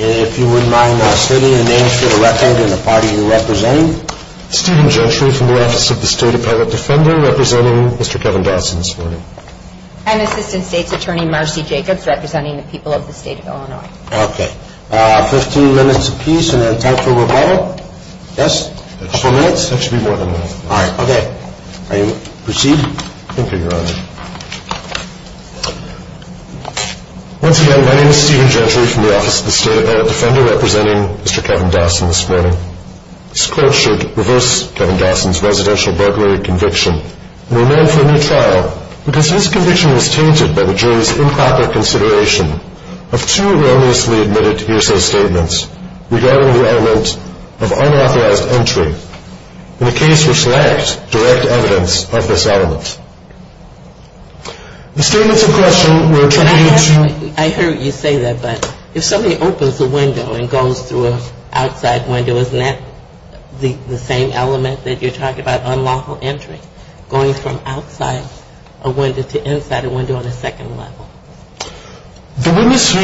If you wouldn't mind stating the names for the record and the party you're representing. Steven Gentry from the Office of the State Appellate Defender representing Mr. Kevin Dawson this morning. And Assistant State's Attorney Marcy Jacobs representing the people of the state of Illinois. Okay. Fifteen minutes apiece and then time for rebuttal. Yes? A couple minutes? That should be more than enough. All right. Okay. Proceed? Thank you, Your Honor. Once again, my name is Steven Gentry from the Office of the State Appellate Defender representing Mr. Kevin Dawson this morning. This court should reverse Kevin Dawson's residential burglary conviction and remand for a new trial because his conviction was tainted by the jury's improper consideration of two erroneously admitted ESO statements regarding the element of unauthorized entry in a case which lacked direct evidence of this element. The statements in question were attributed to... I heard you say that, but if somebody opens a window and goes through an outside window, isn't that the same element that you're talking about, unlawful entry, going from outside a window to inside a window on a second level? The witness who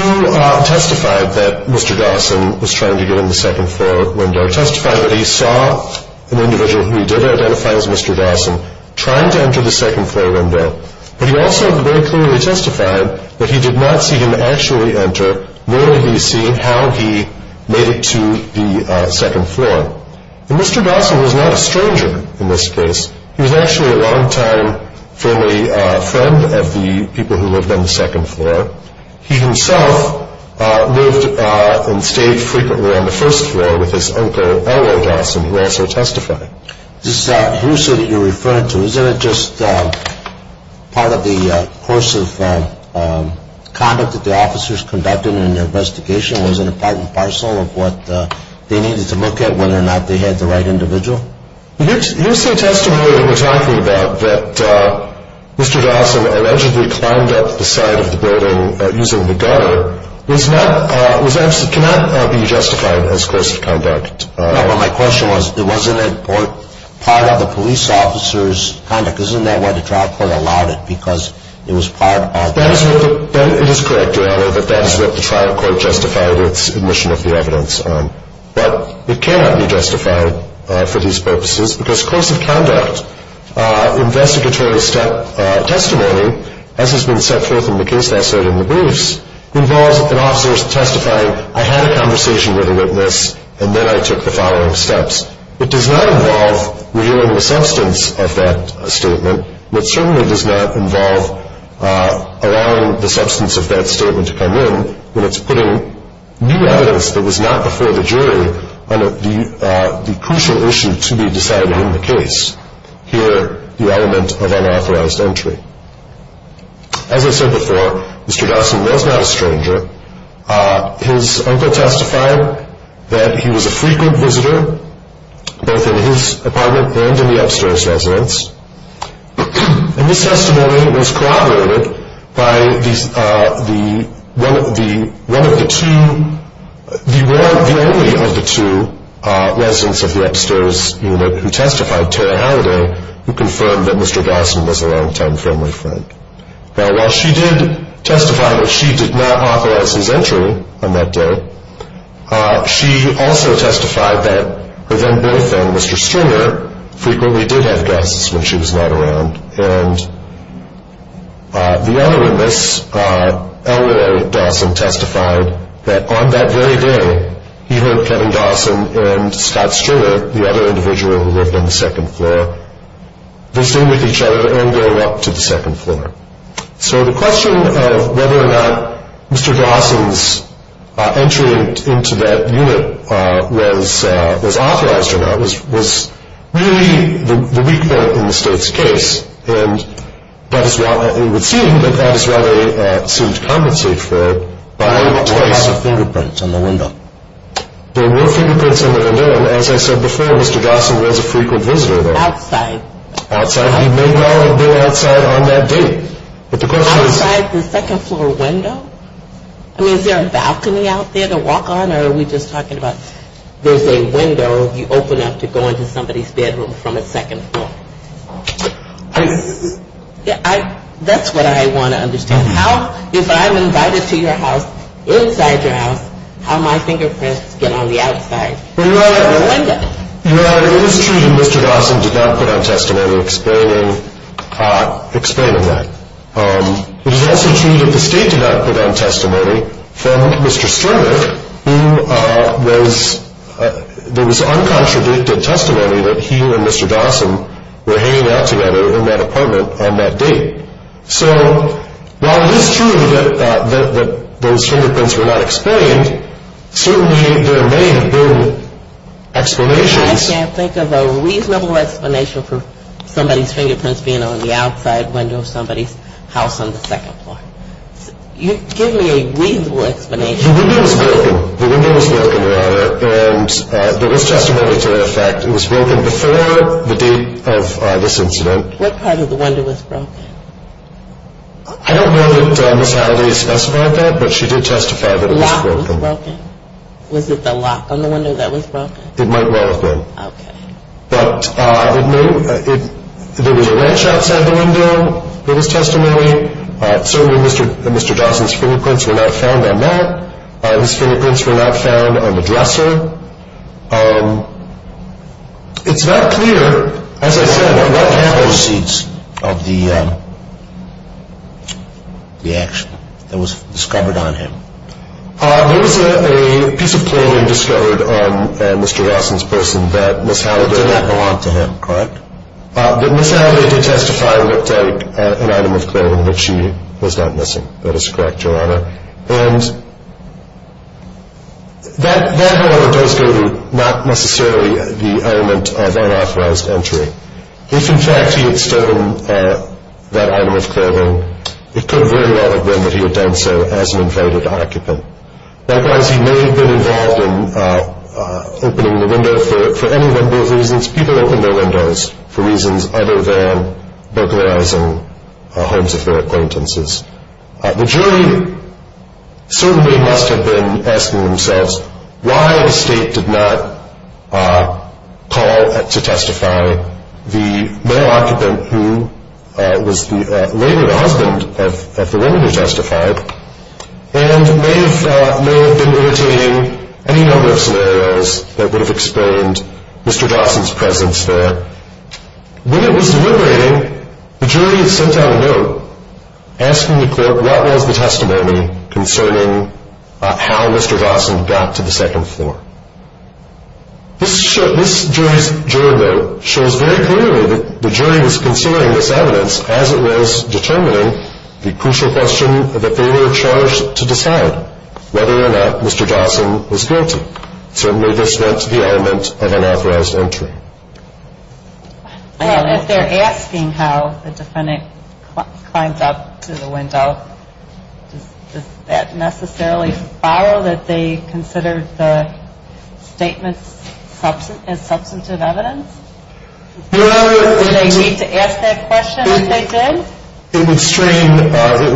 testified that Mr. Dawson was trying to get in the second floor window testified that he saw an individual who he did identify as Mr. Dawson trying to enter the second floor window, but he also very clearly testified that he did not see him actually enter, merely he see how he made it to the second floor. And Mr. Dawson was not a stranger in this case. He was actually a longtime family friend of the people who lived on the second floor. He himself lived and stayed frequently on the first floor with his uncle, Earl Dawson, who also testified. This HUSA that you're referring to, isn't it just part of the course of conduct that the officers conducted in their investigation? Was it a part and parcel of what they needed to look at, whether or not they had the right individual? The HUSA testimony that we're talking about, that Mr. Dawson allegedly climbed up the side of the building using the gun, cannot be justified as course of conduct. No, but my question was, wasn't it part of the police officer's conduct? Isn't that why the trial court allowed it, because it was part of the- That is correct, Your Honor, that that is what the trial court justified its admission of the evidence on. But it cannot be justified for these purposes, because course of conduct investigatory testimony, as has been set forth in the case I cited in the briefs, involves an officer testifying, I had a conversation with a witness, and then I took the following steps. It does not involve revealing the substance of that statement. It certainly does not involve allowing the substance of that statement to come in when it's putting new evidence that was not before the jury on the crucial issue to be decided in the case. Here, the element of unauthorized entry. As I said before, Mr. Dawson was not a stranger. His uncle testified that he was a frequent visitor, both in his apartment and in the upstairs residence. And this testimony was corroborated by the one of the two- the only of the two residents of the upstairs unit who testified, Terry Halliday, who confirmed that Mr. Dawson was a long-time friendly friend. Now, while she did testify that she did not authorize his entry on that day, she also testified that her then-boyfriend, Mr. Stringer, frequently did have guests when she was not around. And the other witness, Elroy Dawson, testified that on that very day, he heard Kevin Dawson and Scott Stringer, the other individual who lived on the second floor, visiting with each other and going up to the second floor. So the question of whether or not Mr. Dawson's entry into that unit was authorized or not was really the weak point in the state's case. And it would seem that that is what they seemed to compensate for by- Or have fingerprints on the window. There were fingerprints on the window. And as I said before, Mr. Dawson was a frequent visitor there. Outside. Outside. He may well have been outside on that day. But the question is- Outside the second floor window? I mean, is there a balcony out there to walk on, or are we just talking about there's a window you open up to go into somebody's bedroom from the second floor? I- That's what I want to understand. How, if I'm invited to your house, inside your house, how my fingerprints get on the outside of the window? Your Honor, it is true that Mr. Dawson did not put on testimony explaining that. It is also true that the state did not put on testimony from Mr. Sternick, who was- There was uncontradicted testimony that he and Mr. Dawson were hanging out together in that apartment on that day. So while it is true that those fingerprints were not explained, certainly there may have been explanations. I can't think of a reasonable explanation for somebody's fingerprints being on the outside window of somebody's house on the second floor. Give me a reasonable explanation. The window was broken. The window was broken, Your Honor. And there was testimony to that fact. It was broken before the date of this incident. What part of the window was broken? I don't know that Ms. Howley specified that, but she did testify that it was broken. Was it the lock on the window that was broken? It might well have been. Okay. But I would know if there was a wrench outside the window, there was testimony. Certainly Mr. Dawson's fingerprints were not found on that. His fingerprints were not found on the dresser. It's not clear, as I said- What were the antecedents of the action that was discovered on him? There was a piece of clothing discovered on Mr. Dawson's person that Ms. Howley- It did not belong to him, correct? That Ms. Howley did testify looked like an item of clothing that she was not missing. That is correct, Your Honor. And that, however, does go to not necessarily the element of unauthorized entry. If, in fact, he had stolen that item of clothing, it could very well have been that he had done so as an invaded occupant. Likewise, he may have been involved in opening the window for any one of those reasons. People open their windows for reasons other than burglarizing homes of their acquaintances. The jury certainly must have been asking themselves why the state did not call to testify the male occupant, who was later the husband of the woman who testified, and may have been imitating any number of scenarios that would have explained Mr. Dawson's presence there. When it was deliberating, the jury sent out a note asking the court what was the testimony concerning how Mr. Dawson got to the second floor. This jury note shows very clearly that the jury was considering this evidence as it was determining the crucial question that they were charged to decide whether or not Mr. Dawson was guilty. Certainly, this went to the element of unauthorized entry. Well, if they're asking how the defendant climbed up to the window, does that necessarily borrow that they considered the statements as substantive evidence? Do they need to ask that question if they did? It would strain the ability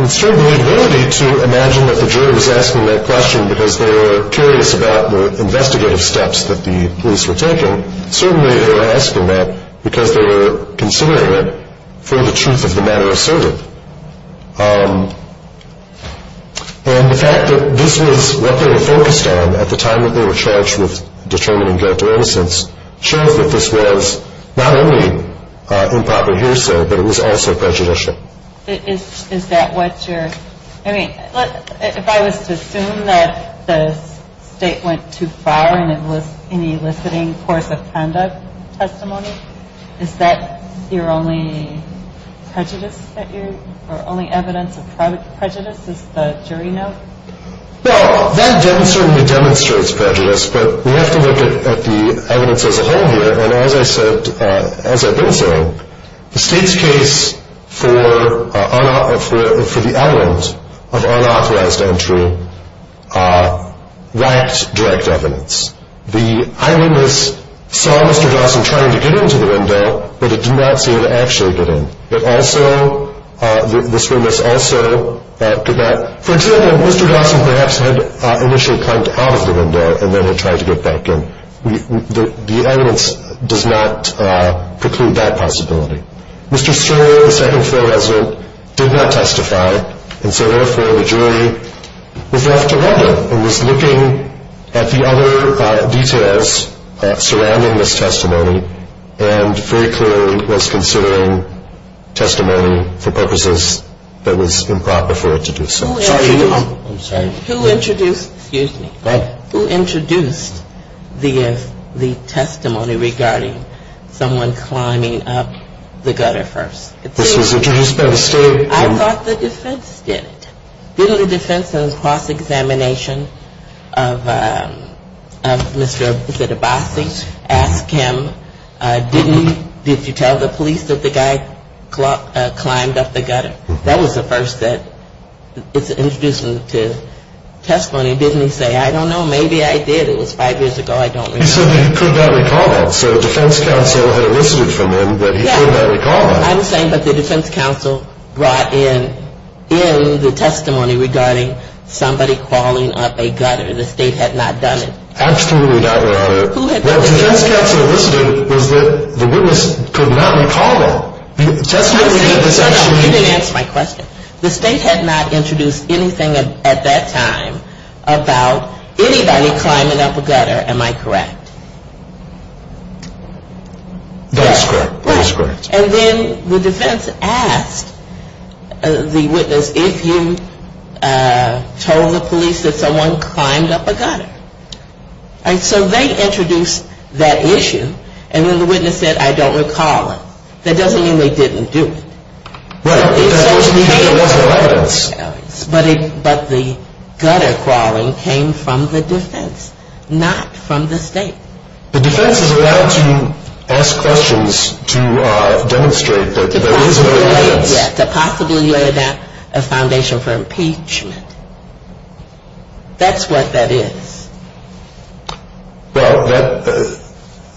to imagine that the jury was asking that question because they were curious about the investigative steps that the police were taking. Certainly, they were asking that because they were considering it for the truth of the matter asserted. And the fact that this was what they were focused on at the time that they were charged with determining guilt or innocence shows that this was not only improper hearsay, but it was also prejudicial. If I was to assume that the state went too far and it was an eliciting course of conduct testimony, is that your only evidence of prejudice, is the jury note? Well, that certainly demonstrates prejudice, but we have to look at the evidence as a whole here. And as I said, as I've been saying, the state's case for the element of unauthorized entry lacked direct evidence. The eyewitness saw Mr. Dawson trying to get into the window, but it did not seem to actually get in. It also, this witness also did not, for example, Mr. Dawson perhaps had initially climbed out of the window and then had tried to get back in. The evidence does not preclude that possibility. Mr. Sterling, the second floor resident, did not testify, and so therefore the jury was left alone and was looking at the other details surrounding this testimony and very clearly was considering testimony for purposes that was improper for it to do so. Excuse me. Go ahead. Who introduced the testimony regarding someone climbing up the gutter first? This was introduced by the state. I thought the defense did it. Didn't the defense in its cross-examination of Mr. Abassi ask him, didn't you tell the police that the guy climbed up the gutter? That was the first that it's introduced to testimony. Didn't he say, I don't know, maybe I did. It was five years ago. I don't remember. He said that he could not recall that. So the defense counsel had elicited from him that he could not recall that. I'm saying that the defense counsel brought in the testimony regarding somebody crawling up a gutter. The state had not done it. Absolutely not, Your Honor. Who had done it? What the defense counsel elicited was that the witness could not recall that. You didn't answer my question. The state had not introduced anything at that time about anybody climbing up a gutter. Am I correct? That is correct. That is correct. And then the defense asked the witness, if you told the police that someone climbed up a gutter. And so they introduced that issue, and then the witness said, I don't recall it. That doesn't mean they didn't do it. Right. That doesn't mean that there wasn't violence. But the gutter crawling came from the defense, not from the state. The defense is allowed to ask questions to demonstrate that there is no offense. To possibly lay a foundation for impeachment. That's what that is. Well, that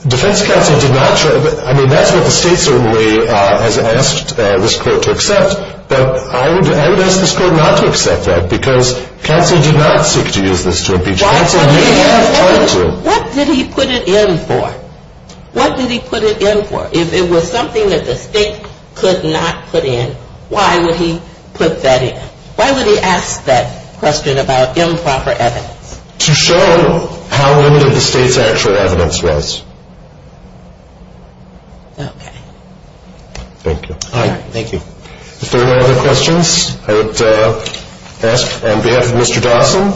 defense counsel did not show. I mean, that's what the state certainly has asked this court to accept. But I would ask this court not to accept that because counsel did not seek to use this to impeach. Counsel may have tried to. What did he put it in for? What did he put it in for? If it was something that the state could not put in, why would he put that in? Why would he ask that question about improper evidence? To show how limited the state's actual evidence was. Okay. Thank you. All right. Thank you. If there are no other questions, I would ask on behalf of Mr. Dawson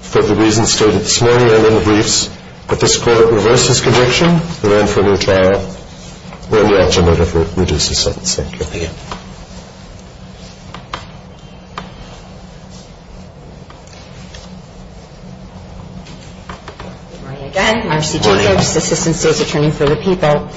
for the reasons stated this morning and in the briefs that this court reverses conviction, We're in for a new trial. We're in the act of murder for reducing sentence. Thank you. Thank you. Good morning again. Marcy Jacobs, Assistant State's Attorney for the People.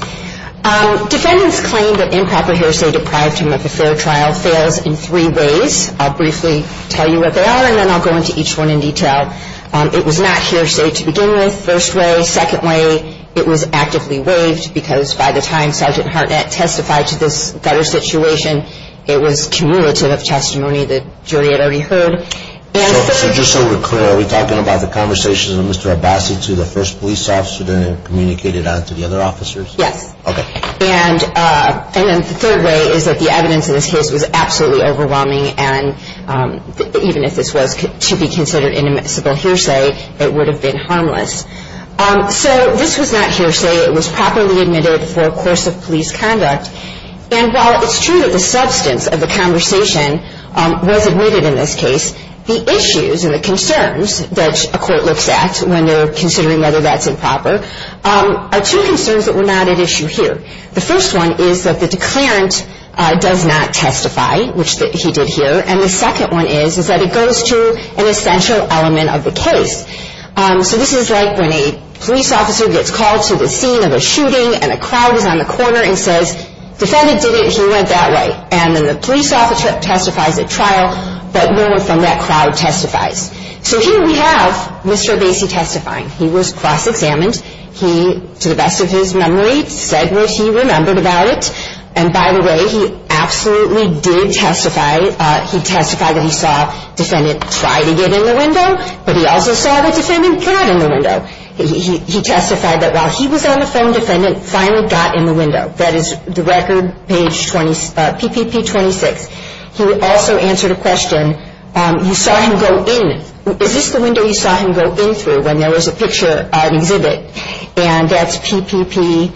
Defendants claim that improper hearsay deprived them of a fair trial fails in three ways. I'll briefly tell you what they are, and then I'll go into each one in detail. It was not hearsay to begin with, first way. Second way, it was actively waived because by the time Sergeant Hartnett testified to this better situation, it was cumulative of testimony the jury had already heard. So just so we're clear, are we talking about the conversation of Mr. Abbasi to the first police officer then communicated on to the other officers? Yes. Okay. And then the third way is that the evidence in this case was absolutely overwhelming, and even if this was to be considered inadmissible hearsay, it would have been harmless. So this was not hearsay. It was properly admitted for a course of police conduct. And while it's true that the substance of the conversation was admitted in this case, the issues and the concerns that a court looks at when they're considering whether that's improper are two concerns that were not at issue here. The first one is that the declarant does not testify, which he did here, and the second one is that it goes to an essential element of the case. So this is like when a police officer gets called to the scene of a shooting and a crowd is on the corner and says, defendant did it, he went that way. And then the police officer testifies at trial, but no one from that crowd testifies. So here we have Mr. Abbasi testifying. He was cross-examined. He, to the best of his memory, said what he remembered about it, and by the way, he absolutely did testify. He testified that he saw defendant try to get in the window, but he also saw that defendant got in the window. He testified that while he was on the phone, defendant finally got in the window. That is the record, page 26, PPP 26. He also answered a question. You saw him go in. Is this the window you saw him go in through when there was a picture on exhibit? And that's PPP,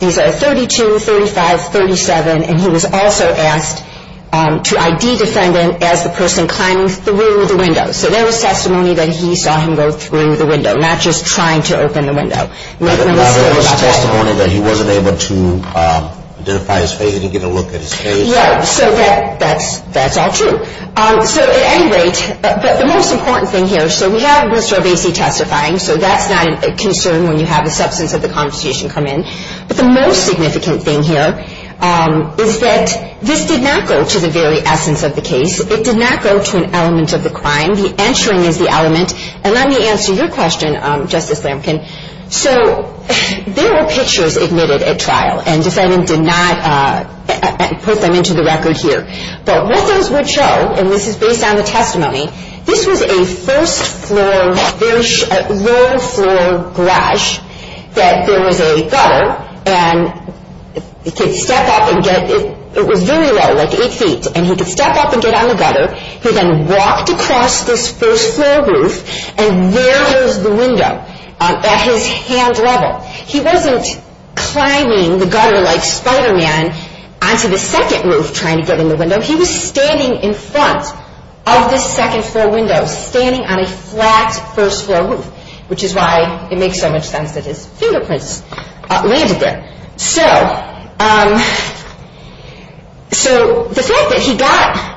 these are 32, 35, 37, and he was also asked to ID defendant as the person climbing through the window. So there was testimony that he saw him go through the window, not just trying to open the window. There was testimony that he wasn't able to identify his face. He didn't get a look at his face. Yeah, so that's all true. So at any rate, the most important thing here, so we have Mr. Obese testifying, so that's not a concern when you have the substance of the conversation come in. But the most significant thing here is that this did not go to the very essence of the case. It did not go to an element of the crime. The answering is the element, and let me answer your question, Justice Lamkin. So there were pictures admitted at trial, and defendant did not put them into the record here. But what those would show, and this is based on the testimony, this was a first-floor, low-floor garage that there was a gutter, and he could step up and get, it was very low, like eight feet, and he could step up and get on the gutter. He then walked across this first-floor roof, and there was the window at his hand level. He wasn't climbing the gutter like Spider-Man onto the second roof trying to get in the window. He was standing in front of this second-floor window, standing on a flat first-floor roof, which is why it makes so much sense that his fingerprints landed there. So the fact that he got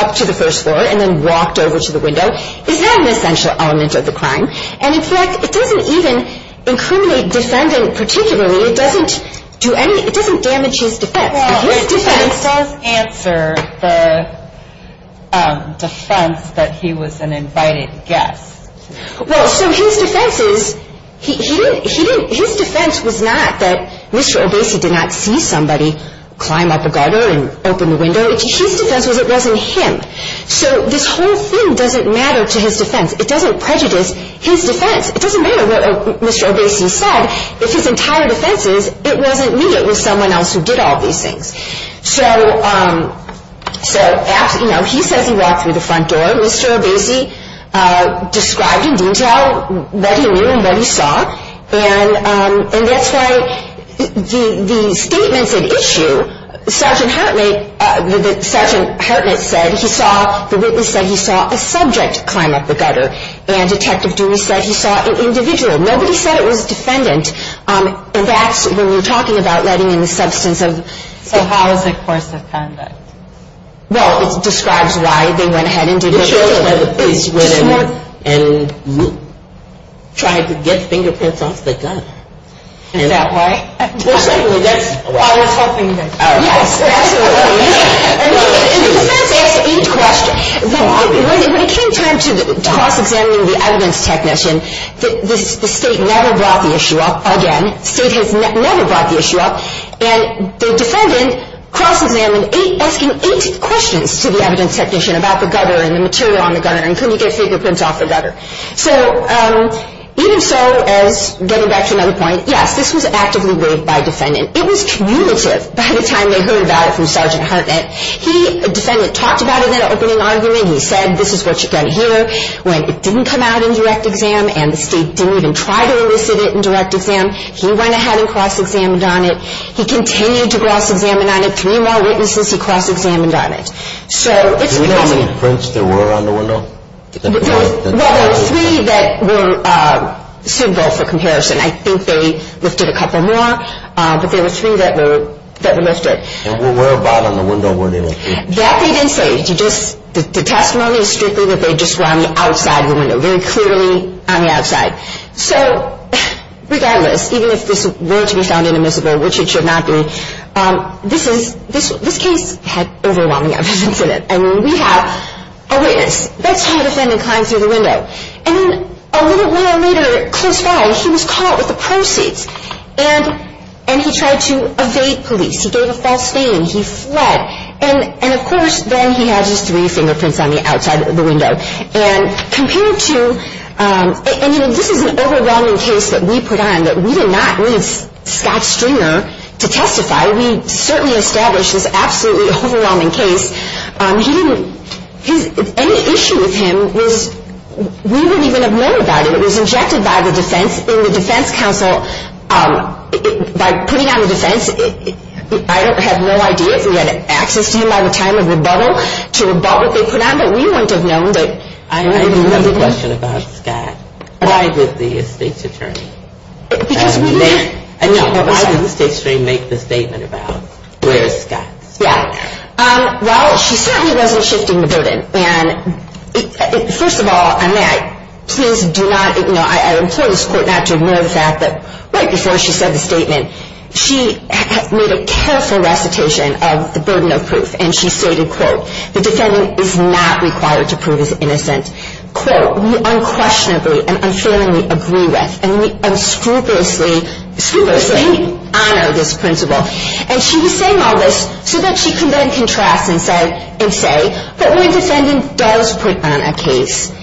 up to the first floor and then walked over to the window is not an essential element of the crime, and in fact, it doesn't even incriminate defendant particularly. It doesn't do any, it doesn't damage his defense. His defense. Well, it doesn't answer the defense that he was an invited guest. Well, so his defense is, he didn't, his defense was not that Mr. Obese did not see somebody climb up a gutter and open the window. His defense was it wasn't him. So this whole thing doesn't matter to his defense. It doesn't prejudice his defense. It doesn't matter what Mr. Obese said. If his entire defense is it wasn't me, it was someone else who did all these things. So, you know, he says he walked through the front door. Mr. Obese described in detail what he knew and what he saw, and that's why the statements at issue, Sergeant Hartnett said he saw, the witness said he saw a subject climb up the gutter, and Detective Dewey said he saw an individual. Nobody said it was a defendant, and that's when we're talking about letting in the substance of. So how is the course of conduct? Well, it describes why they went ahead and did what they did. It shows why the police went in and tried to get fingerprints off the gutter. Is that why? Well, certainly, that's. I was hoping that. Yes, absolutely. And the defense asked eight questions. When it came time to cross-examining the evidence technician, the state never brought the issue up again. The state has never brought the issue up, and the defendant cross-examined asking eight questions to the evidence technician about the gutter and the material on the gutter and could he get fingerprints off the gutter. So even so, as getting back to another point, yes, this was actively weighed by defendant. It was cumulative by the time they heard about it from Sergeant Hartnett. He, the defendant, talked about it in an opening argument. He said, this is what you're going to hear. When it didn't come out in direct exam and the state didn't even try to elicit it in direct exam, he went ahead and cross-examined on it. He continued to cross-examine on it. Three more witnesses he cross-examined on it. So it's because of. Do we know how many prints there were on the window? Well, there were three that were suitable for comparison. I think they lifted a couple more, but there were three that were listed. And where about on the window were they listed? That they didn't say. The testimony is strictly that they just were on the outside of the window, very clearly on the outside. So regardless, even if this were to be found inadmissible, which it should not be, this case had overwhelming evidence in it. I mean, we have a witness. That's how a defendant climbs through the window. And then a little while later, close by, he was caught with the proceeds. And he tried to evade police. He gave a false name. He fled. And, of course, then he has his three fingerprints on the outside of the window. And compared to ñ and, you know, this is an overwhelming case that we put on, that we did not leave Scott Stringer to testify. We certainly established this absolutely overwhelming case. He didn't ñ any issue with him was ñ we wouldn't even have known about it. It was injected by the defense in the defense council. By putting on the defense, I have no idea if we had access to him by the time of rebuttal, to rebut what they put on, but we wouldn't have known that. I have another question about Scott. Why did the estate's attorney make the statement about where is Scott? Yeah. Well, she certainly wasn't shifting the burden. And, first of all, and may I ñ please do not ñ you know, I implore this court not to ignore the fact that, right before she said the statement, she made a careful recitation of the burden of proof. And she stated, quote, the defendant is not required to prove his innocence. Quote, we unquestionably and unfailingly agree with and we unscrupulously honor this principle. And she was saying all this so that she could then contrast and say, but when a defendant does put on a case,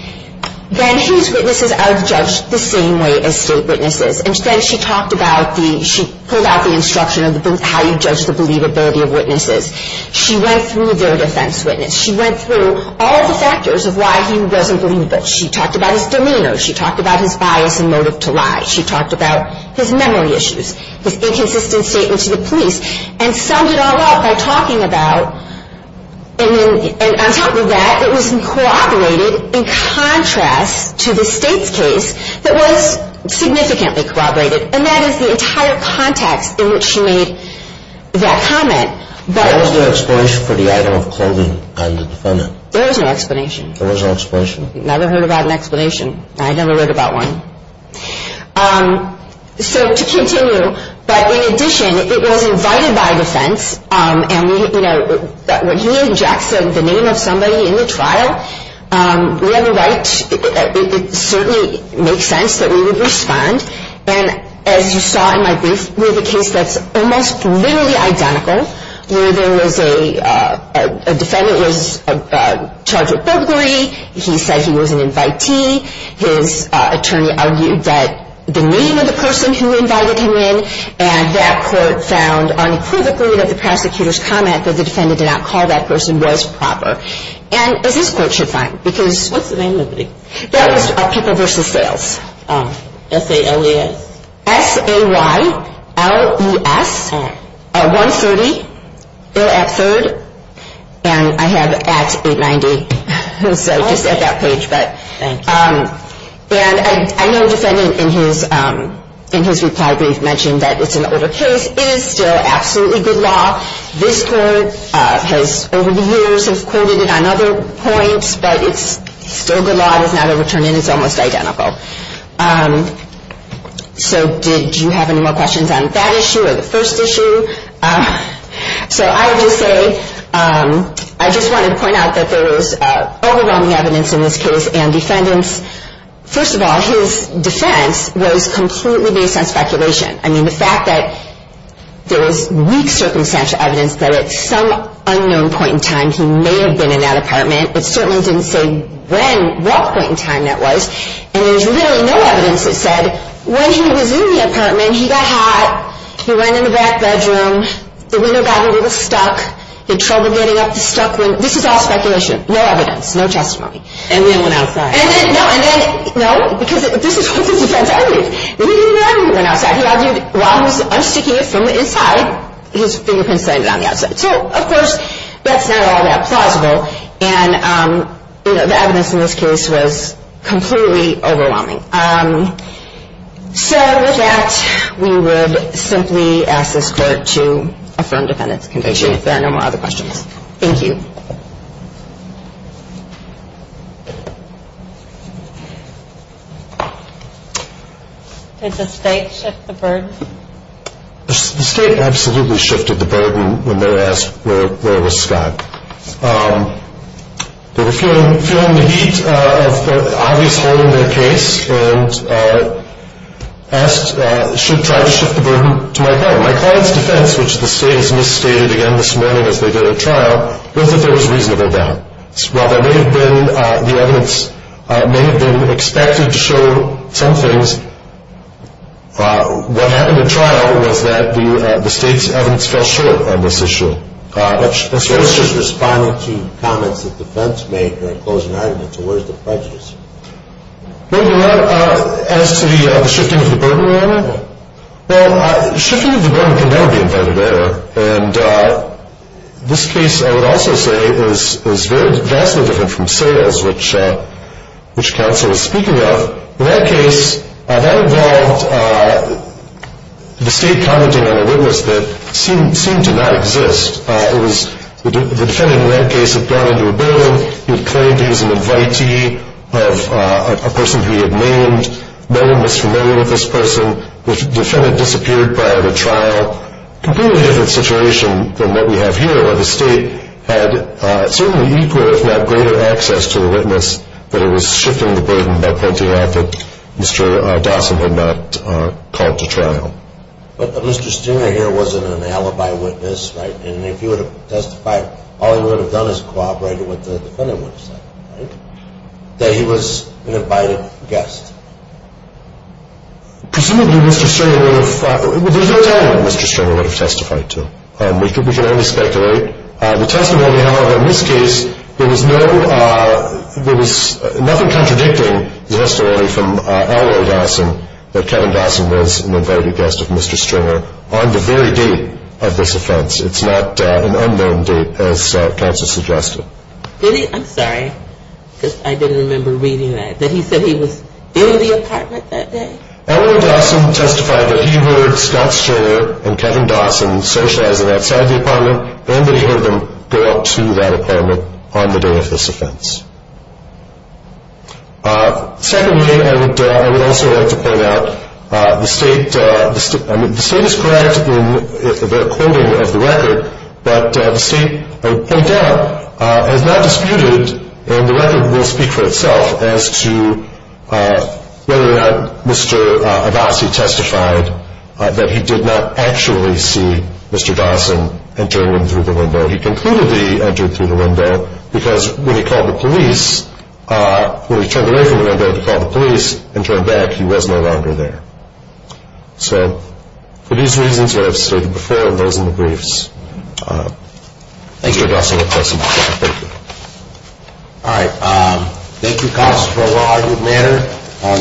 then his witnesses are judged the same way as state witnesses. Instead, she talked about the ñ she pulled out the instruction of how you judge the believability of witnesses. She went through their defense witness. She went through all of the factors of why he wasn't believable. She talked about his demeanor. She talked about his bias and motive to lie. She talked about his memory issues, his inconsistent statement to the police. And summed it all up by talking about ñ and then ñ and on top of that, it was corroborated in contrast to the State's case that was significantly corroborated. And that is the entire context in which she made that comment. But ñ There was no explanation for the item of clothing on the defendant? There was no explanation. There was no explanation? Never heard about an explanation. I never read about one. So to continue, but in addition, it was invited by defense. And we ñ you know, when he injects the name of somebody in the trial, we have a right ñ it certainly makes sense that we would respond. And as you saw in my brief, we have a case that's almost literally identical, where there was a ñ a defendant was charged with burglary. He said he was an invitee. His attorney argued that ñ the name of the person who invited him in. And that court found unequivocally that the prosecutor's comment that the defendant did not call that person was proper. And as this Court should find, because ñ What's the name of the ñ That was People v. Sales. Oh. S-A-L-E-S? S-A-Y-L-E-S. Oh. 130, ill at third, and I have at 890. So just at that page, but ñ Thank you. And I know the defendant in his ñ in his reply brief mentioned that it's an older case. It is still absolutely good law. This Court has, over the years, has quoted it on other points, but it's still good law. It has not overturned it. It's almost identical. So did you have any more questions on that issue or the first issue? So I would just say, I just wanted to point out that there was overwhelming evidence in this case and defendants. First of all, his defense was completely based on speculation. I mean, the fact that there was weak circumstantial evidence that at some unknown point in time he may have been in that apartment. It certainly didn't say when ñ what point in time that was. And there's really no evidence that said when he was in the apartment, he got hot, he went in the back bedroom, the window got a little stuck, he had trouble getting up the stuck window. This is all speculation. No evidence. No testimony. And then went outside. And then, no, and then, no, because this is what the defense argued. He didn't know when he went outside. He argued while he was unsticking it from the inside, his fingerprints landed on the outside. So, of course, that's not all that plausible. And, you know, the evidence in this case was completely overwhelming. So with that, we would simply ask this court to affirm defendant's conviction if there are no more other questions. Thank you. Did the state shift the burden? The state absolutely shifted the burden when they asked where was Scott. They were feeling the heat of the obvious hold on their case and asked, should try to shift the burden to my client. My client's defense, which the state has misstated again this morning as they did at trial, was that there was reasonable doubt. While the evidence may have been expected to show some things, what happened at trial was that the state's evidence fell short on this issue. That's just responding to comments that the defense made during closing arguments. So where's the prejudice? Well, as to the shifting of the burden, well, shifting of the burden can never be invented later. And this case, I would also say, is vastly different from Sayers, which counsel was speaking of. In that case, that involved the state commenting on a witness that seemed to not exist. The defendant in that case had gone into a building. He had claimed he was an invitee of a person who he had named. No one was familiar with this person. The defendant disappeared prior to trial. Completely different situation than what we have here, where the state had certainly equal, if not greater, access to the witness, but it was shifting the burden by pointing out that Mr. Dawson had not called to trial. But Mr. Stringer here wasn't an alibi witness, right? And if he would have testified, all he would have done is cooperated with what the defendant would have said, right? That he was an invited guest. Presumably Mr. Stringer would have – well, there's no telling what Mr. Stringer would have testified to. We can only speculate. The testimony, however, in this case, there was nothing contradicting the testimony from Elroy Dawson that Kevin Dawson was an invited guest of Mr. Stringer on the very date of this offense. It's not an unknown date, as counsel suggested. Really? I'm sorry, because I didn't remember reading that. That he said he was in the apartment that day? Elroy Dawson testified that he heard Scott Stringer and Kevin Dawson socializing outside the apartment and that he heard them go up to that apartment on the day of this offense. Secondly, and I would also like to point out, the state is correct in the quoting of the record, but the state, I would point out, has not disputed, and the record will speak for itself, as to whether or not Mr. Adasi testified that he did not actually see Mr. Dawson entering through the window. He concluded that he entered through the window because when he called the police, when he turned away from the window to call the police and turned back, he was no longer there. So for these reasons that I've stated before and those in the briefs, Mr. Adasi will testify. All right. Thank you, counsel, for a well-argued matter.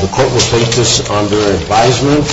The court will take this under advisement.